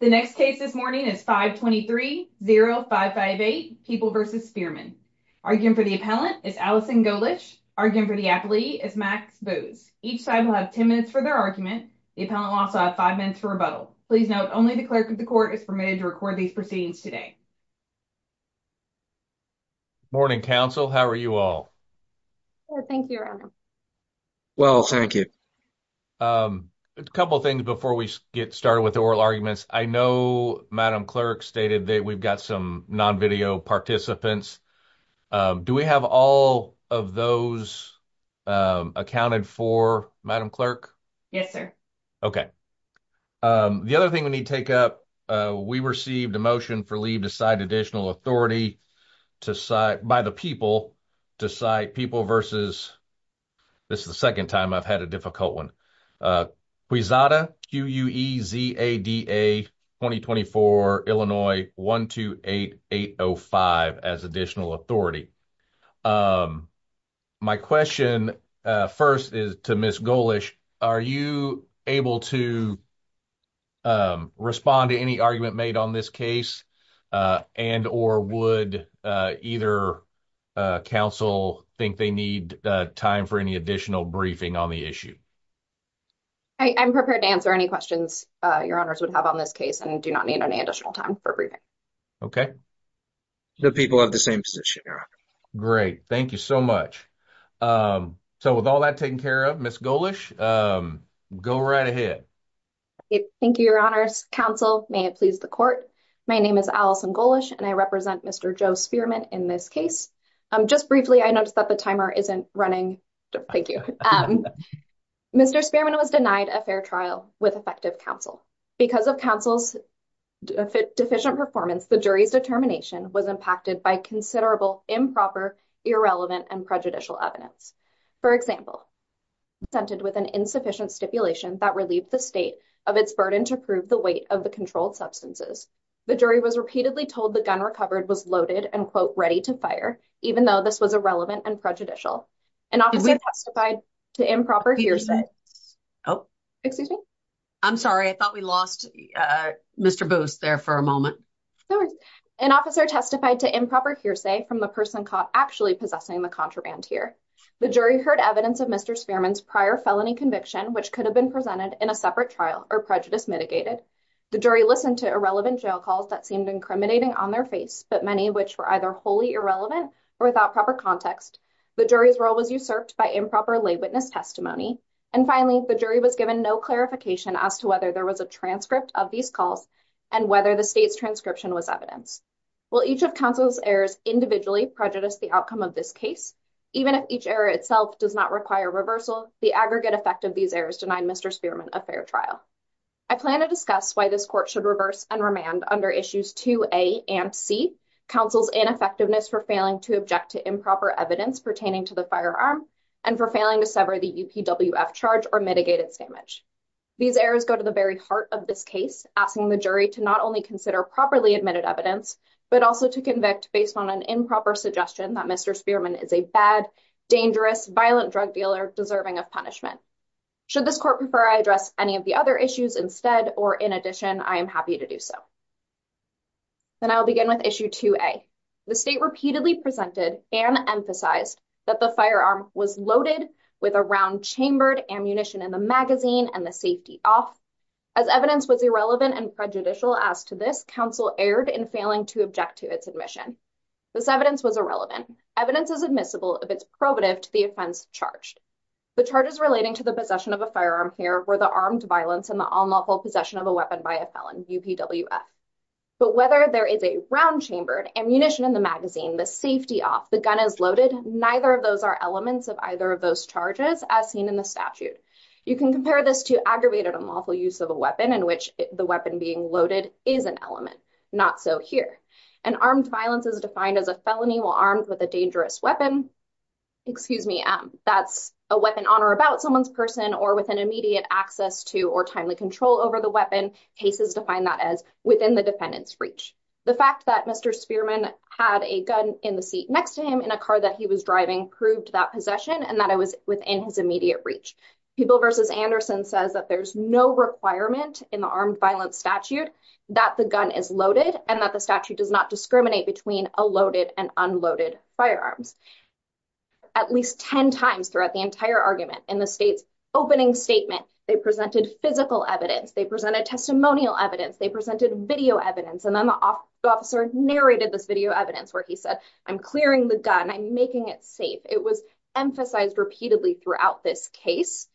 The next case this morning is 523-0558, People v. Spearman. Arguing for the appellant is Allison Golich. Arguing for the appellee is Max Booz. Each side will have 10 minutes for their argument. The appellant will also have 5 minutes for rebuttal. Please note, only the clerk of the court is permitted to record these proceedings today. Morning, counsel. How are you all? Thank you, your honor. Well, thank you. A couple of things before we get started with the oral arguments. I know Madam Clerk stated that we've got some non-video participants. Do we have all of those accounted for, Madam Clerk? Yes, sir. Okay. The other thing we need to take up, we received a motion for leave to cite additional authority by the people to cite People v. This is the second time I've had a difficult one. Quezada, Q-U-E-Z-A-D-A, 2024, Illinois, 128-805 as additional authority. My question first is to Ms. Golich. Are you able to respond to any argument made on this case, and or would either counsel think they need time for any additional briefing on the issue? I'm prepared to answer any questions your honors would have on this case, and do not need any additional time for briefing. Okay. The people have the same position. Great. Thank you so much. So with all that taken care of, Ms. Golich, go right ahead. Thank you, your honors. Counsel, may it please the court, my name is Allison Golich and I represent Mr. Joe Spearman in this case. Just briefly, I noticed that the timer isn't running. Thank you. Um, Mr. Spearman was denied a fair trial with effective counsel. Because of counsel's deficient performance, the jury's determination was impacted by considerable improper, irrelevant, and prejudicial evidence. For example, assented with an insufficient stipulation that relieved the state of its burden to prove the weight of the controlled substances. The jury was repeatedly told the gun recovered was loaded and ready to fire, even though this was irrelevant and prejudicial. An officer testified to improper hearsay from the person caught actually possessing the contraband here. The jury heard evidence of Mr. Spearman's prior felony conviction, which could have been presented in a separate trial, or prejudice mitigated. The jury listened to irrelevant jail calls that seemed incriminating on their face, but many of which were either wholly irrelevant or without proper context. The jury's role was usurped by improper lay witness testimony. And finally, the jury was given no clarification as to whether there was a transcript of these calls and whether the state's transcription was evidence. Will each of counsel's errors individually prejudice the outcome of this case? Even if each error itself does not require reversal, the aggregate effect of these errors denied Mr. Spearman a fair trial. I plan to discuss why this court should reverse and remand under issues 2A and C, counsel's ineffectiveness for failing to object to improper evidence pertaining to the firearm and for failing to sever the UPWF charge or mitigate its damage. These errors go to the very heart of this case, asking the jury to not only consider properly admitted evidence, but also to convict based on an improper suggestion that Mr. Spearman is a bad, dangerous, violent drug dealer deserving of punishment. Should this court prefer I address any of the other issues instead, or in addition, I am happy to do so. Then I'll begin with issue 2A. The state repeatedly presented and emphasized that the firearm was loaded with a round chambered ammunition in the magazine and the safety off. As evidence was irrelevant and prejudicial as to this, counsel erred in failing to object to its admission. This evidence was irrelevant. Evidence is admissible if it's probative to the offense charged. The charges relating to the possession of a firearm here were the armed violence and the unlawful possession of a weapon by a felon, UPWF. But whether there is a round chambered ammunition in the magazine, the safety off, the gun is loaded, neither of those are elements of either of those charges as seen in the statute. You can compare this to aggravated unlawful use of a weapon in which the weapon being loaded is an element, not so here. And armed violence is defined as a felony while armed with a dangerous weapon. Excuse me, that's a weapon on or about someone's person or with an immediate access to or timely control over the weapon. Cases define that as within the defendant's reach. The fact that Mr. Spearman had a gun in the seat next to him in a car that he was driving proved that possession and that it was within his immediate reach. People v. Anderson says that there's no requirement in the armed violence statute that the gun is loaded and that the statute does not discriminate between a loaded and unloaded firearms. At least 10 times throughout the entire argument in the state's opening statement, they presented physical evidence, they presented testimonial evidence, they presented video evidence, and then the officer narrated this video evidence where he said, I'm clearing the gun, I'm making it safe. It was emphasized repeatedly throughout this case,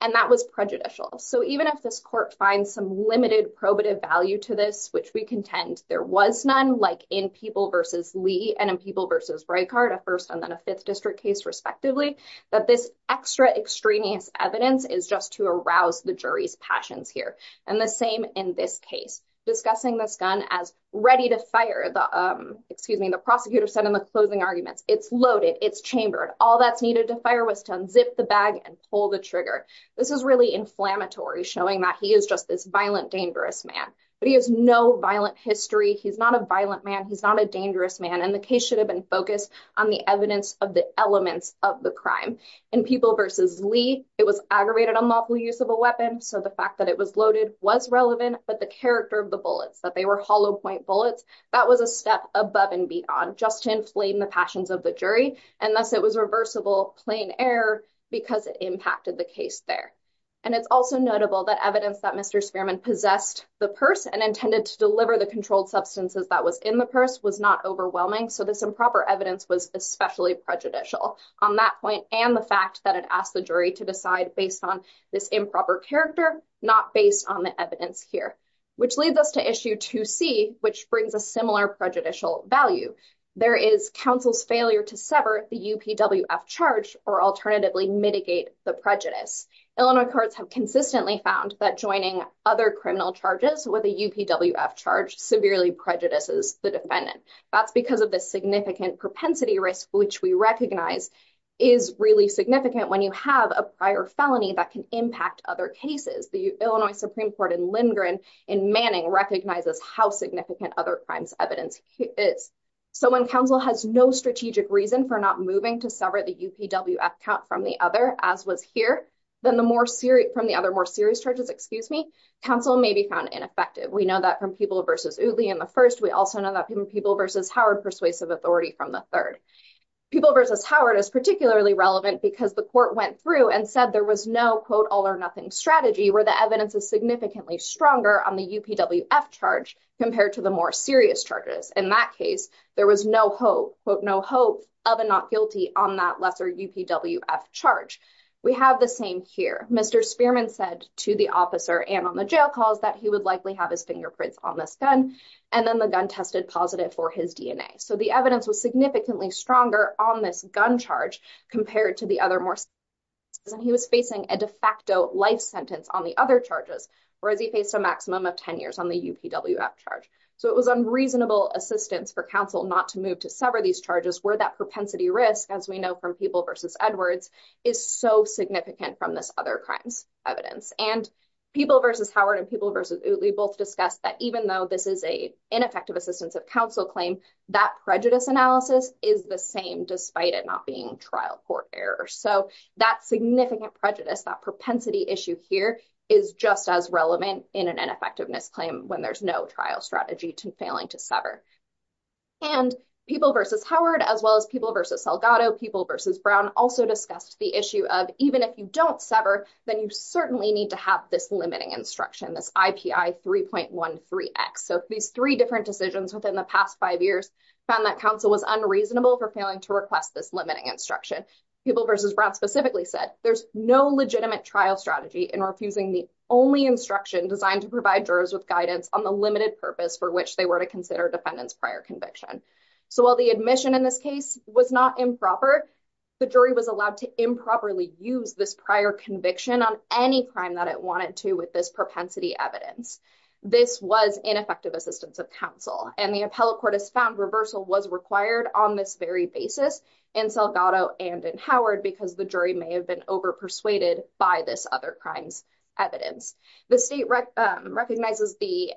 and that was prejudicial. So even if this court finds some limited probative value to this, which we contend there was none, like in Peeble v. Lee and in Peeble v. Breitkart, a first and then a fifth district case respectively, that this extra extraneous evidence is just to arouse the jury's passions here. And the same in this case, discussing this gun as ready to fire, excuse me, the prosecutor said in the closing arguments, it's loaded, it's chambered, all that's needed to fire was to unzip the bag and pull the trigger. This is really inflammatory, showing that he is just this violent, dangerous man. But he has no violent history, he's not a violent man, he's not a dangerous man, and the case should have been focused on the evidence of the elements of the crime. In Peeble v. Lee, it was aggravated unlawful use of a weapon, so the fact that it was loaded was relevant, but the character of the bullets, that they were hollow point bullets, that was a step above and beyond, just to inflame the passions of the jury, and thus it was reversible, plain error, because it impacted the case there. And it's also notable that evidence that Mr. Spearman possessed the purse and intended to deliver the controlled substances that was in the purse was not overwhelming, so this improper evidence was especially prejudicial on that point, and the fact that it asked the jury to decide based on this improper character, not based on the evidence here. Which leads us to issue 2c, which brings a similar prejudicial value. There is counsel's failure to sever the UPWF charge or alternatively mitigate the prejudice. Illinois courts have consistently found that joining other criminal charges with a UPWF charge severely prejudices the defendant. That's because of the significant propensity risk, which we recognize is really significant when you have a prior felony that can impact other cases. The Illinois Supreme Court in Lindgren, in Manning, recognizes how significant other crimes evidence is. So when counsel has no strategic reason for not moving to sever the UPWF count from the other, as was here, then the more serious, from the other more serious charges, excuse me, counsel may be found ineffective. We know that from People v. Udley in the first, we also know that from People v. Howard persuasive authority from the third. People v. Howard is particularly relevant because the court went through and said there was no, quote, all or nothing strategy where the evidence is significantly stronger on the UPWF charge compared to the more serious charges. In that case, there was no hope, quote, no hope of a not guilty on that lesser UPWF charge. We have the same here. Mr. Spearman said to the officer and on the jail calls that he would likely have his fingerprints on this gun, and then the gun tested positive for his DNA. So the evidence was significantly stronger on this gun charge compared to the other more serious charges, and he was facing a de facto life sentence on the other charges, whereas he faced a maximum of 10 years on the UPWF charge. So it was unreasonable assistance for counsel not to move to sever these charges where that propensity risk, as we know from People v. Edwards, is so significant from this other crimes evidence. And People v. Howard and People v. Udley both discussed that even though this is a ineffective assistance of counsel claim, that prejudice analysis is the same despite it not being trial court error. So that significant prejudice, that propensity issue here is just as relevant in an ineffectiveness claim when there's no trial strategy to failing to sever. And People v. Howard, as well as People v. Salgado, People v. Brown also discussed the issue of even if you don't sever, then you certainly need to have this limiting instruction, this IPI 3.13x. So these three different decisions within the past five years found that counsel was unreasonable for failing to request this limiting instruction. People v. Brown specifically said there's no legitimate trial strategy in refusing the only instruction designed to provide jurors with guidance on the limited purpose for which they were to consider defendant's prior conviction. So while the admission in this case was not improper, the jury was allowed to improperly use this prior conviction on any crime that it wanted to with this propensity evidence. This was ineffective assistance of counsel. And the appellate court has found reversal was required on this very basis in Salgado and in Howard because the jury may have been over-persuaded by this other crime's evidence. The state recognizes the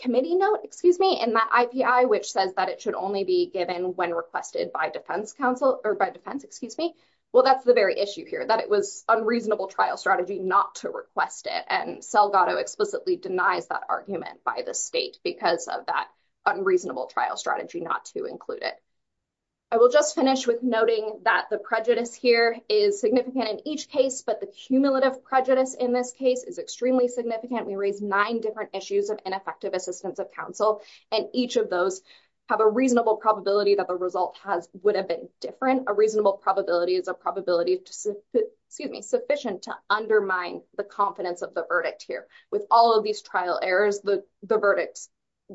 committee note, excuse me, in that IPI, which says that it should only be given when requested by defense counsel or by defense, excuse me. Well, that's the very issue here, that it was unreasonable trial strategy not to request it. And Salgado explicitly denies that argument by the state because of that unreasonable trial strategy not to include it. I will just finish with noting that the prejudice here is significant in each case, but the cumulative prejudice in this case is extremely significant. We raised nine different issues of ineffective assistance of counsel, and each of those have a reasonable probability that the result would have been different. A reasonable probability is a probability, excuse me, to undermine the confidence of the verdict here. With all of these trial errors, the verdicts,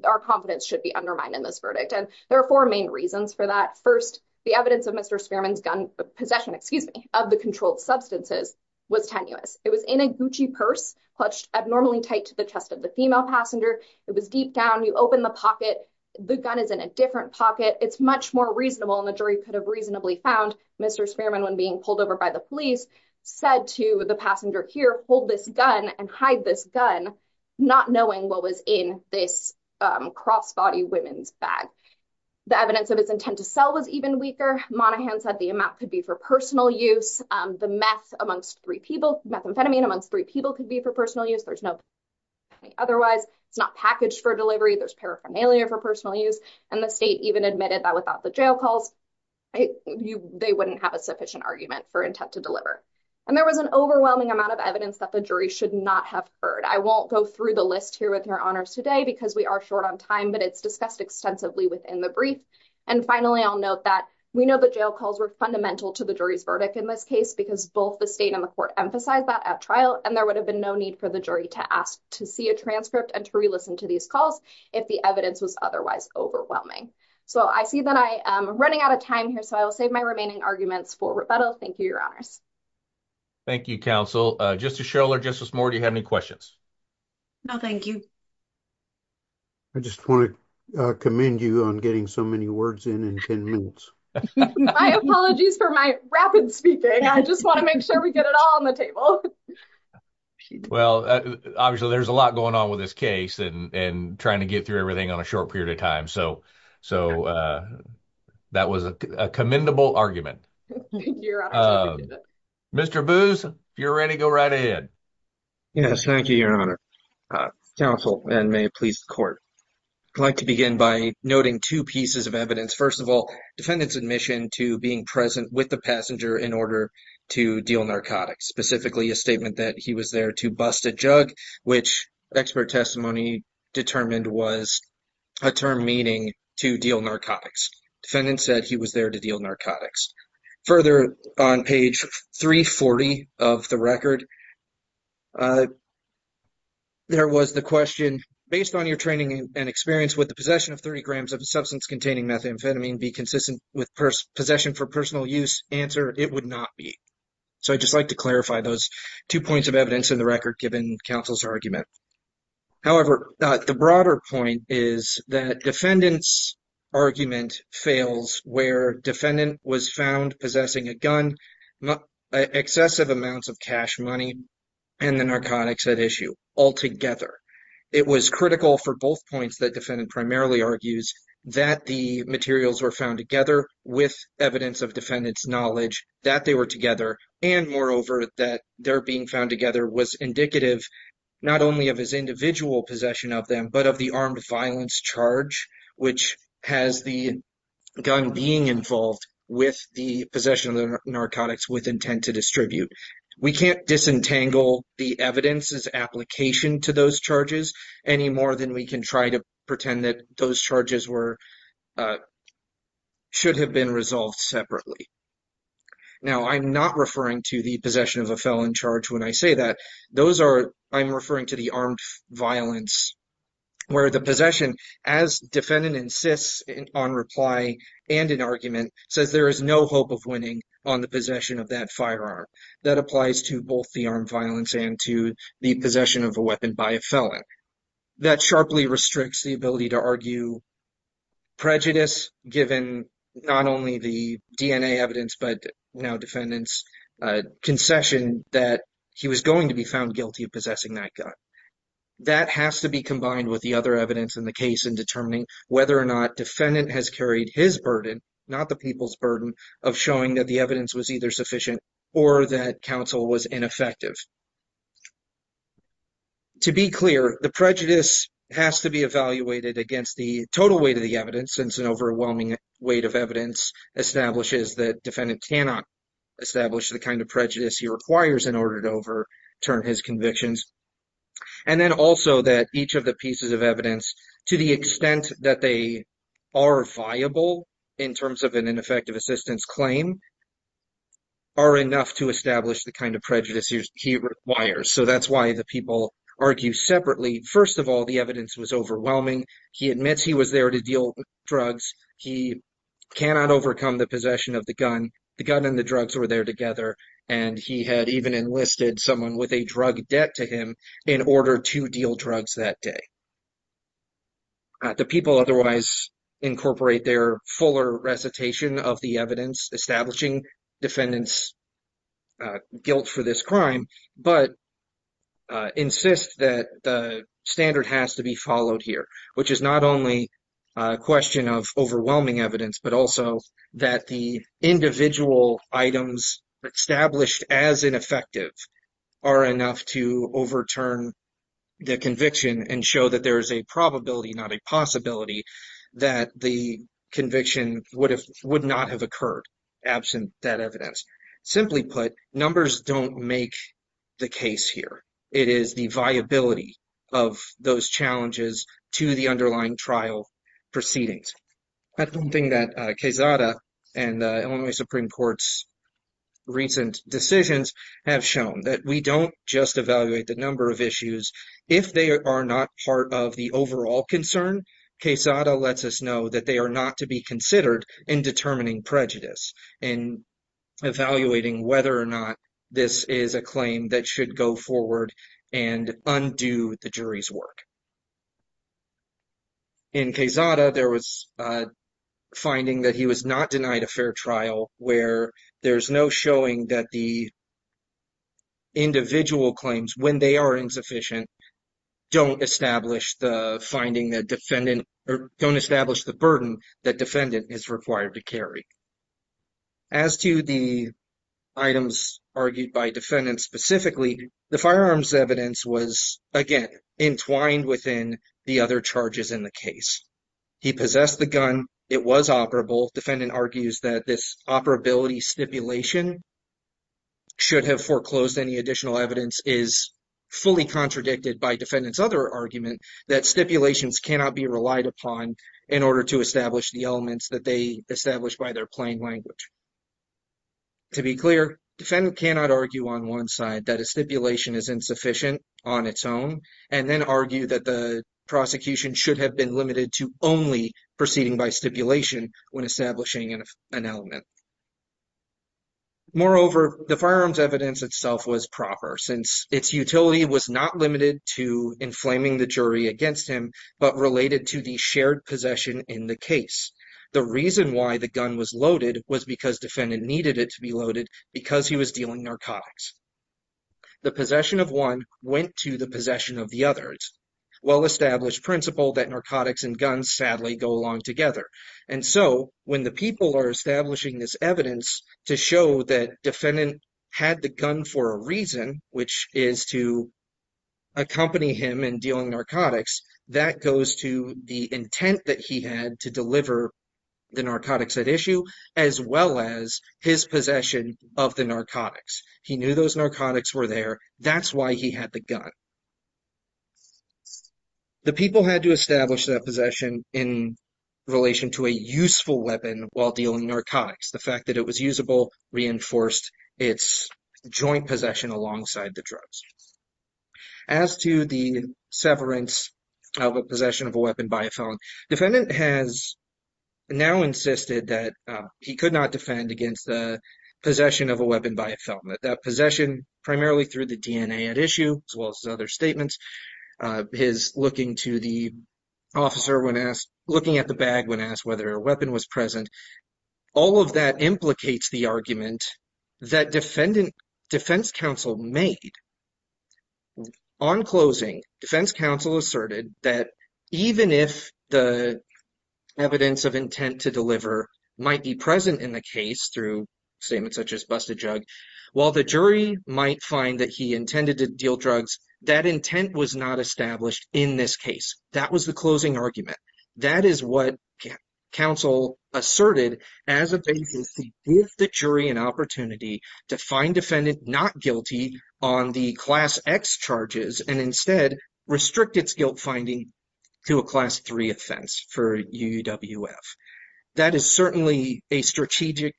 our confidence should be undermined in this verdict. And there are four main reasons for that. First, the evidence of Mr. Spearman's gun, possession, excuse me, of the controlled substances was tenuous. It was in a Gucci purse, clutched abnormally tight to the chest of the female passenger. It was deep down. You open the pocket, the gun is in a different pocket. It's much more reasonable, and the jury could have reasonably found Mr. Spearman when being pulled over by the police, said to the passenger here, hold this gun and hide this gun, not knowing what was in this cross-body women's bag. The evidence of his intent to sell was even weaker. Monaghan said the amount could be for personal use. The methamphetamine amongst three people could be for personal use. There's no otherwise. It's not packaged for delivery. There's paraphernalia for personal use, and the state even admitted that without the jail calls, they wouldn't have a intent to deliver. And there was an overwhelming amount of evidence that the jury should not have heard. I won't go through the list here with your honors today because we are short on time, but it's discussed extensively within the brief. And finally, I'll note that we know the jail calls were fundamental to the jury's verdict in this case because both the state and the court emphasized that at trial, and there would have been no need for the jury to ask to see a transcript and to re-listen to these calls if the evidence was otherwise overwhelming. So I see that I am running out of time here, so I will save my remaining arguments for rebuttal. Thank you, your honors. Thank you, counsel. Justice Shiller, Justice Moore, do you have any questions? No, thank you. I just want to commend you on getting so many words in in 10 minutes. My apologies for my rapid speaking. I just want to make sure we get it all on the table. Well, obviously, there's a lot going on with this case and trying to get through everything in a short period of time. So that was a commendable argument. Mr. Booz, if you're ready, go right ahead. Yes, thank you, your honor. Counsel, and may it please the court. I'd like to begin by noting two pieces of evidence. First of all, defendant's admission to being present with the passenger in order to deal narcotics, specifically a statement that he was there to bust a jug, which expert testimony determined was a term meaning to deal narcotics. Defendant said he was there to deal narcotics. Further, on page 340 of the record, there was the question, based on your training and experience, would the possession of 30 grams of a substance containing methamphetamine be consistent with possession for personal use? Answer, it would not be. So I'd just like to clarify those two points of evidence in the record given counsel's argument. However, the broader point is that defendant's argument fails where defendant was found possessing a gun, excessive amounts of cash money, and the narcotics at issue altogether. It was critical for both points that defendant primarily argues that the materials were found together with evidence of its knowledge that they were together and, moreover, that their being found together was indicative not only of his individual possession of them, but of the armed violence charge which has the gun being involved with the possession of the narcotics with intent to distribute. We can't disentangle the evidence's application to those charges any more than we can try to pretend that those charges should have been resolved separately. Now, I'm not referring to the possession of a felon charge when I say that. I'm referring to the armed violence where the possession, as defendant insists on reply and in argument, says there is no hope of winning on the possession of that firearm. That applies to both the armed violence and to the possession of a the ability to argue prejudice given not only the DNA evidence, but now defendant's concession that he was going to be found guilty of possessing that gun. That has to be combined with the other evidence in the case in determining whether or not defendant has carried his burden, not the people's burden, of showing that the evidence was either sufficient or that counsel was ineffective. To be clear, the prejudice has to be evaluated against the total weight of the evidence since an overwhelming weight of evidence establishes that defendant cannot establish the kind of prejudice he requires in order to overturn his convictions. And then also that each of the pieces of evidence, to the extent that they are viable in terms of an ineffective assistance claim, are enough to establish the kind of prejudice he requires. So that's why the people argue separately. First of all, the evidence was overwhelming. He admits he was there to deal with drugs. He cannot overcome the possession of the gun. The gun and the drugs were there together, and he had even enlisted someone with a drug debt to him in order to deal drugs that day. The people otherwise incorporate their fuller recitation of the evidence establishing defendant's guilt for this crime, but insist that the standard has to be followed here, which is not only a question of overwhelming evidence, but also that the individual items established as ineffective are enough to overturn the conviction and show that there is a probability, not a possibility, that the conviction would not have occurred absent that evidence. Simply put, numbers don't make the case here. It is the viability of those challenges to the underlying trial proceedings. That's one thing that Quezada and Illinois Supreme Court's recent decisions have shown, that we don't just evaluate the number of issues. If they are not part of the overall concern, Quezada lets us know that they are not to be considered in determining prejudice, in evaluating whether or not this is a claim that should go forward and undo the jury's work. In Quezada, there was a finding that he was not denied a fair trial where there's no showing that the individual claims, when they are insufficient, don't establish the finding that defendant, or don't establish the burden that defendant is required to carry. As to the items argued by defendant specifically, the firearms evidence was, again, entwined within the other charges in the case. He possessed the gun. It was operable. Defendant argues that this operability stipulation should have foreclosed any additional evidence is fully contradicted by defendant's other argument that stipulations cannot be relied upon in order to establish the elements that they establish by their plain language. To be clear, defendant cannot argue on one side that a stipulation is insufficient on its own, and then argue that the prosecution should have been limited to only proceeding by stipulation when establishing an element. Moreover, the firearms evidence itself was proper, since its utility was not limited to inflaming the jury against him, but related to the possession in the case. The reason why the gun was loaded was because defendant needed it to be loaded because he was dealing narcotics. The possession of one went to the possession of the others. Well-established principle that narcotics and guns sadly go along together. And so, when the people are establishing this evidence to show that defendant had the gun for a reason, which is to accompany him in dealing narcotics, that goes to the intent that he had to deliver the narcotics at issue, as well as his possession of the narcotics. He knew those narcotics were there. That's why he had the gun. The people had to establish that possession in relation to a useful weapon while dealing narcotics. The fact that it was usable reinforced its joint possession alongside the drugs. As to the severance of a possession of a weapon by a felon, defendant has now insisted that he could not defend against the possession of a weapon by a felon. That possession primarily through the DNA at issue, as well as his other statements, his looking to the officer when asked, looking at the bag when asked whether a weapon was present, all of that implicates the argument that defense counsel made. On closing, defense counsel asserted that even if the evidence of intent to deliver might be present in the case through statements such as busted jug, while the jury might find that he intended to deal drugs, that intent was not established in this case. That was the closing argument. That is what counsel asserted as a basis to give the jury an opportunity to find defendant not guilty on the class X charges and instead restrict its guilt finding to a class 3 offense for UUWF. That is certainly a strategic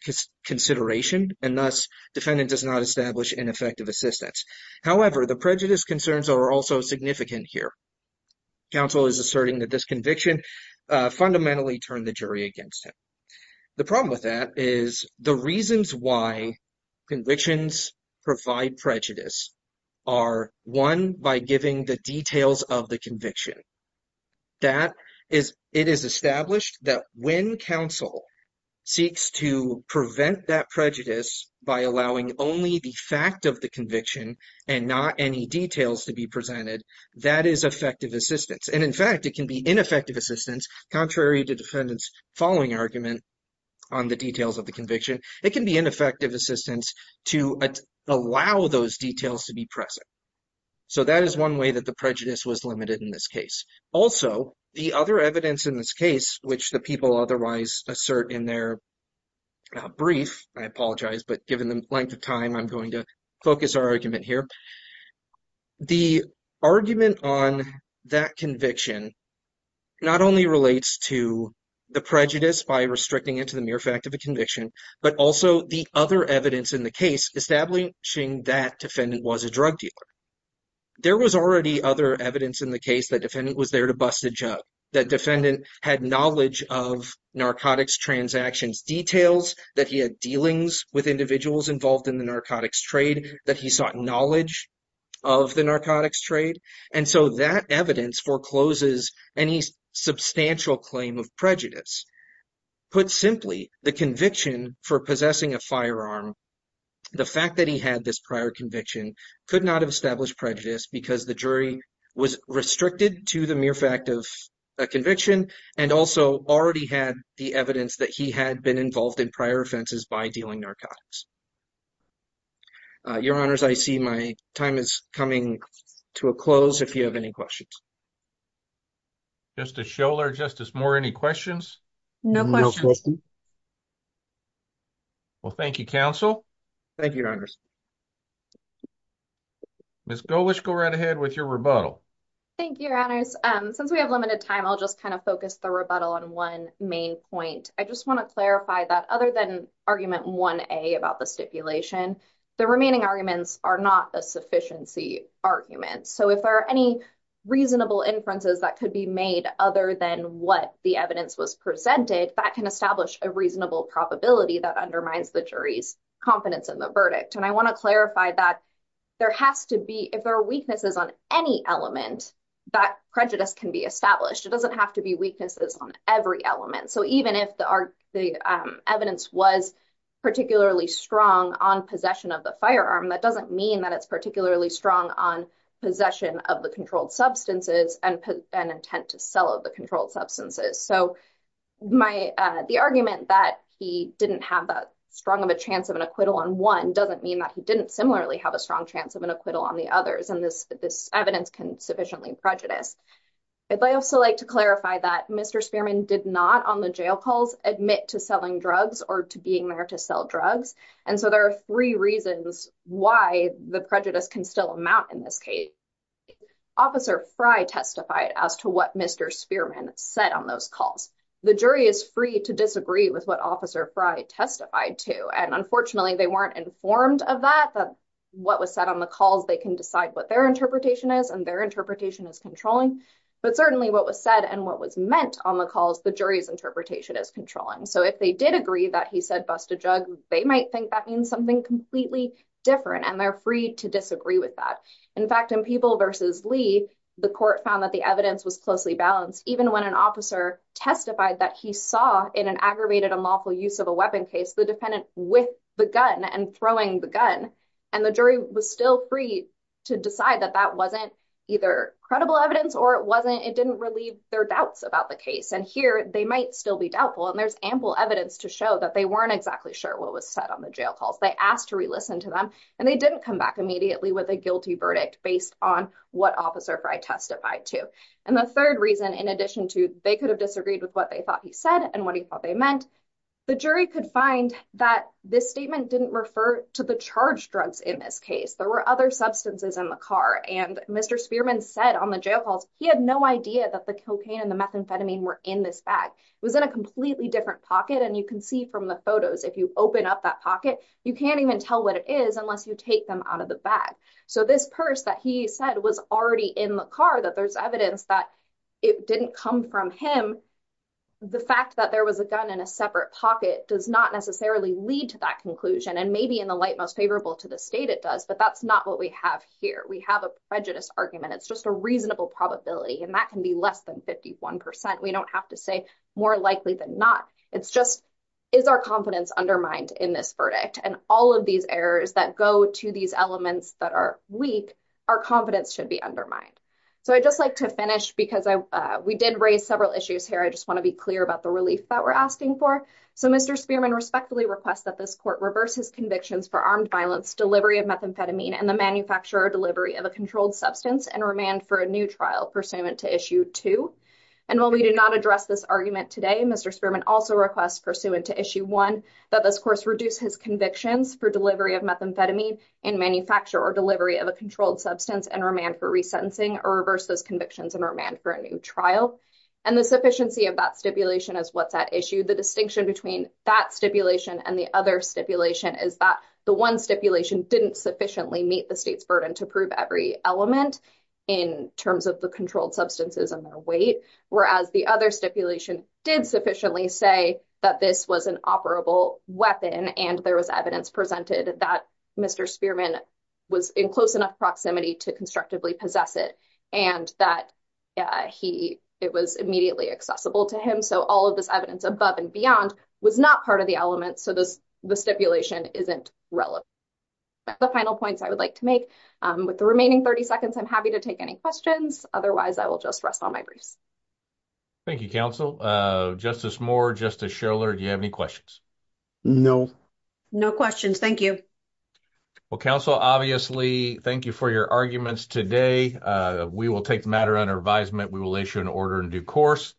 consideration and thus defendant does not establish ineffective assistance. However, the prejudice concerns are also significant here. Counsel is asserting that this conviction fundamentally turned the convictions provide prejudice are one by giving the details of the conviction. That is, it is established that when counsel seeks to prevent that prejudice by allowing only the fact of the conviction and not any details to be presented, that is effective assistance. And in fact, it can be ineffective assistance, contrary to defendant's following argument on the details of the conviction, it can be ineffective assistance to allow those details to be present. So that is one way that the prejudice was limited in this case. Also, the other evidence in this case, which the people otherwise assert in their brief, I apologize, but given the length of time, I'm going to focus our argument here. The argument on that conviction not only relates to the prejudice by restricting it to the mere fact of a conviction, but also the other evidence in the case establishing that defendant was a drug dealer. There was already other evidence in the case that defendant was there to bust a job, that defendant had knowledge of narcotics transactions details, that he had dealings with individuals involved in the narcotics trade, that he sought knowledge of the narcotics trade. And so that evidence forecloses any substantial claim of prejudice. Put simply, the conviction for possessing a firearm, the fact that he had this prior conviction could not have established prejudice because the jury was restricted to the mere fact of a conviction and also already had the evidence that he had been involved in prior offenses by dealing narcotics. Your Honors, I see my time is coming to a close. If you have any questions. Justice Scholar, Justice Moore, any questions? No questions. Well, thank you, counsel. Thank you, Your Honors. Ms. Gowish, go right ahead with your rebuttal. Thank you, Your Honors. Since we have limited time, I'll just kind of focus the rebuttal on one main point. I just want to clarify that other than argument 1A about the stipulation, the remaining arguments are not a sufficiency argument. So if there are any reasonable inferences that could be made other than what the evidence was presented, that can establish a reasonable probability that undermines the jury's confidence in the verdict. And I want to clarify that there has to be, if there are weaknesses on any element, that prejudice can be established. It doesn't have to be weaknesses on every element. So even if the evidence was particularly strong on possession of the firearm, that doesn't mean that it's particularly strong on possession of the controlled substances and intent to sell the controlled substances. So the argument that he didn't have that strong of a chance of an acquittal on one doesn't mean that he didn't similarly have a strong chance of an acquittal on the others. And this evidence can sufficiently prejudice. I'd also like to clarify that Mr. Spearman did not on the jail calls admit to selling drugs or to being there to sell drugs. And so there are three reasons why the prejudice can still amount in this case. Officer Frye testified as to what Mr. Spearman said on those calls. The jury is free to disagree with what Officer Frye testified to. And unfortunately, they weren't informed of that, that what was said on the calls, they can decide what their interpretation is and their is controlling. But certainly what was said and what was meant on the calls, the jury's interpretation is controlling. So if they did agree that he said, bust a jug, they might think that means something completely different. And they're free to disagree with that. In fact, in people versus Lee, the court found that the evidence was closely balanced, even when an officer testified that he saw in an aggravated unlawful use of a weapon case, the defendant with the gun and throwing the gun, and the jury was still free to decide that that wasn't either credible evidence or it wasn't, it didn't relieve their doubts about the case. And here, they might still be doubtful. And there's ample evidence to show that they weren't exactly sure what was said on the jail calls, they asked to relisten to them. And they didn't come back immediately with a guilty verdict based on what Officer Frye testified to. And the third reason, in addition to they could have disagreed with what they thought he said and what he thought they meant. The jury could find that this statement didn't refer to the charge drugs in this case, there were other substances in the car. And Mr. Spearman said on the jail calls, he had no idea that the cocaine and the methamphetamine were in this bag was in a completely different pocket. And you can see from the photos, if you open up that pocket, you can't even tell what it is unless you take them out of the bag. So this purse that he said was already in the car that there's evidence that it didn't come from him. The fact that there was a gun in a separate pocket does not necessarily lead to that conclusion. And maybe in the light most favorable to the state it does, but that's not what we have here. We have a prejudice argument, it's just a reasonable probability. And that can be less than 51%. We don't have to say more likely than not. It's just is our confidence undermined in this verdict and all of these errors that go to these elements that are weak, our confidence should be undermined. So I just like to finish because we did raise several issues here. I just want to be clear about the relief that we're asking for. So Mr. Spearman respectfully requests that this court reverses convictions for armed violence, delivery of methamphetamine, and the manufacture or delivery of a controlled substance and remand for a new trial pursuant to Issue 2. And while we do not address this argument today, Mr. Spearman also requests pursuant to Issue 1 that this course reduce his convictions for delivery of methamphetamine and manufacture or delivery of a controlled substance and remand for resentencing or reverse those convictions and remand for a new trial. And the sufficiency of that stipulation is what's at issue. The distinction between that stipulation and the other stipulation is that one stipulation didn't sufficiently meet the state's burden to prove every element in terms of the controlled substances and their weight, whereas the other stipulation did sufficiently say that this was an operable weapon and there was evidence presented that Mr. Spearman was in close enough proximity to constructively possess it and that it was immediately accessible to him. So all of this evidence above and beyond was not part of the element, so the stipulation isn't relevant. That's the final points I would like to make. With the remaining 30 seconds, I'm happy to take any questions. Otherwise, I will just rest on my briefs. Thank you, Counsel. Justice Moore, Justice Schoeller, do you have any questions? No. No questions. Thank you. Well, Counsel, obviously, thank you for your arguments today. We will take the matter under advisement. We will issue an order in due course.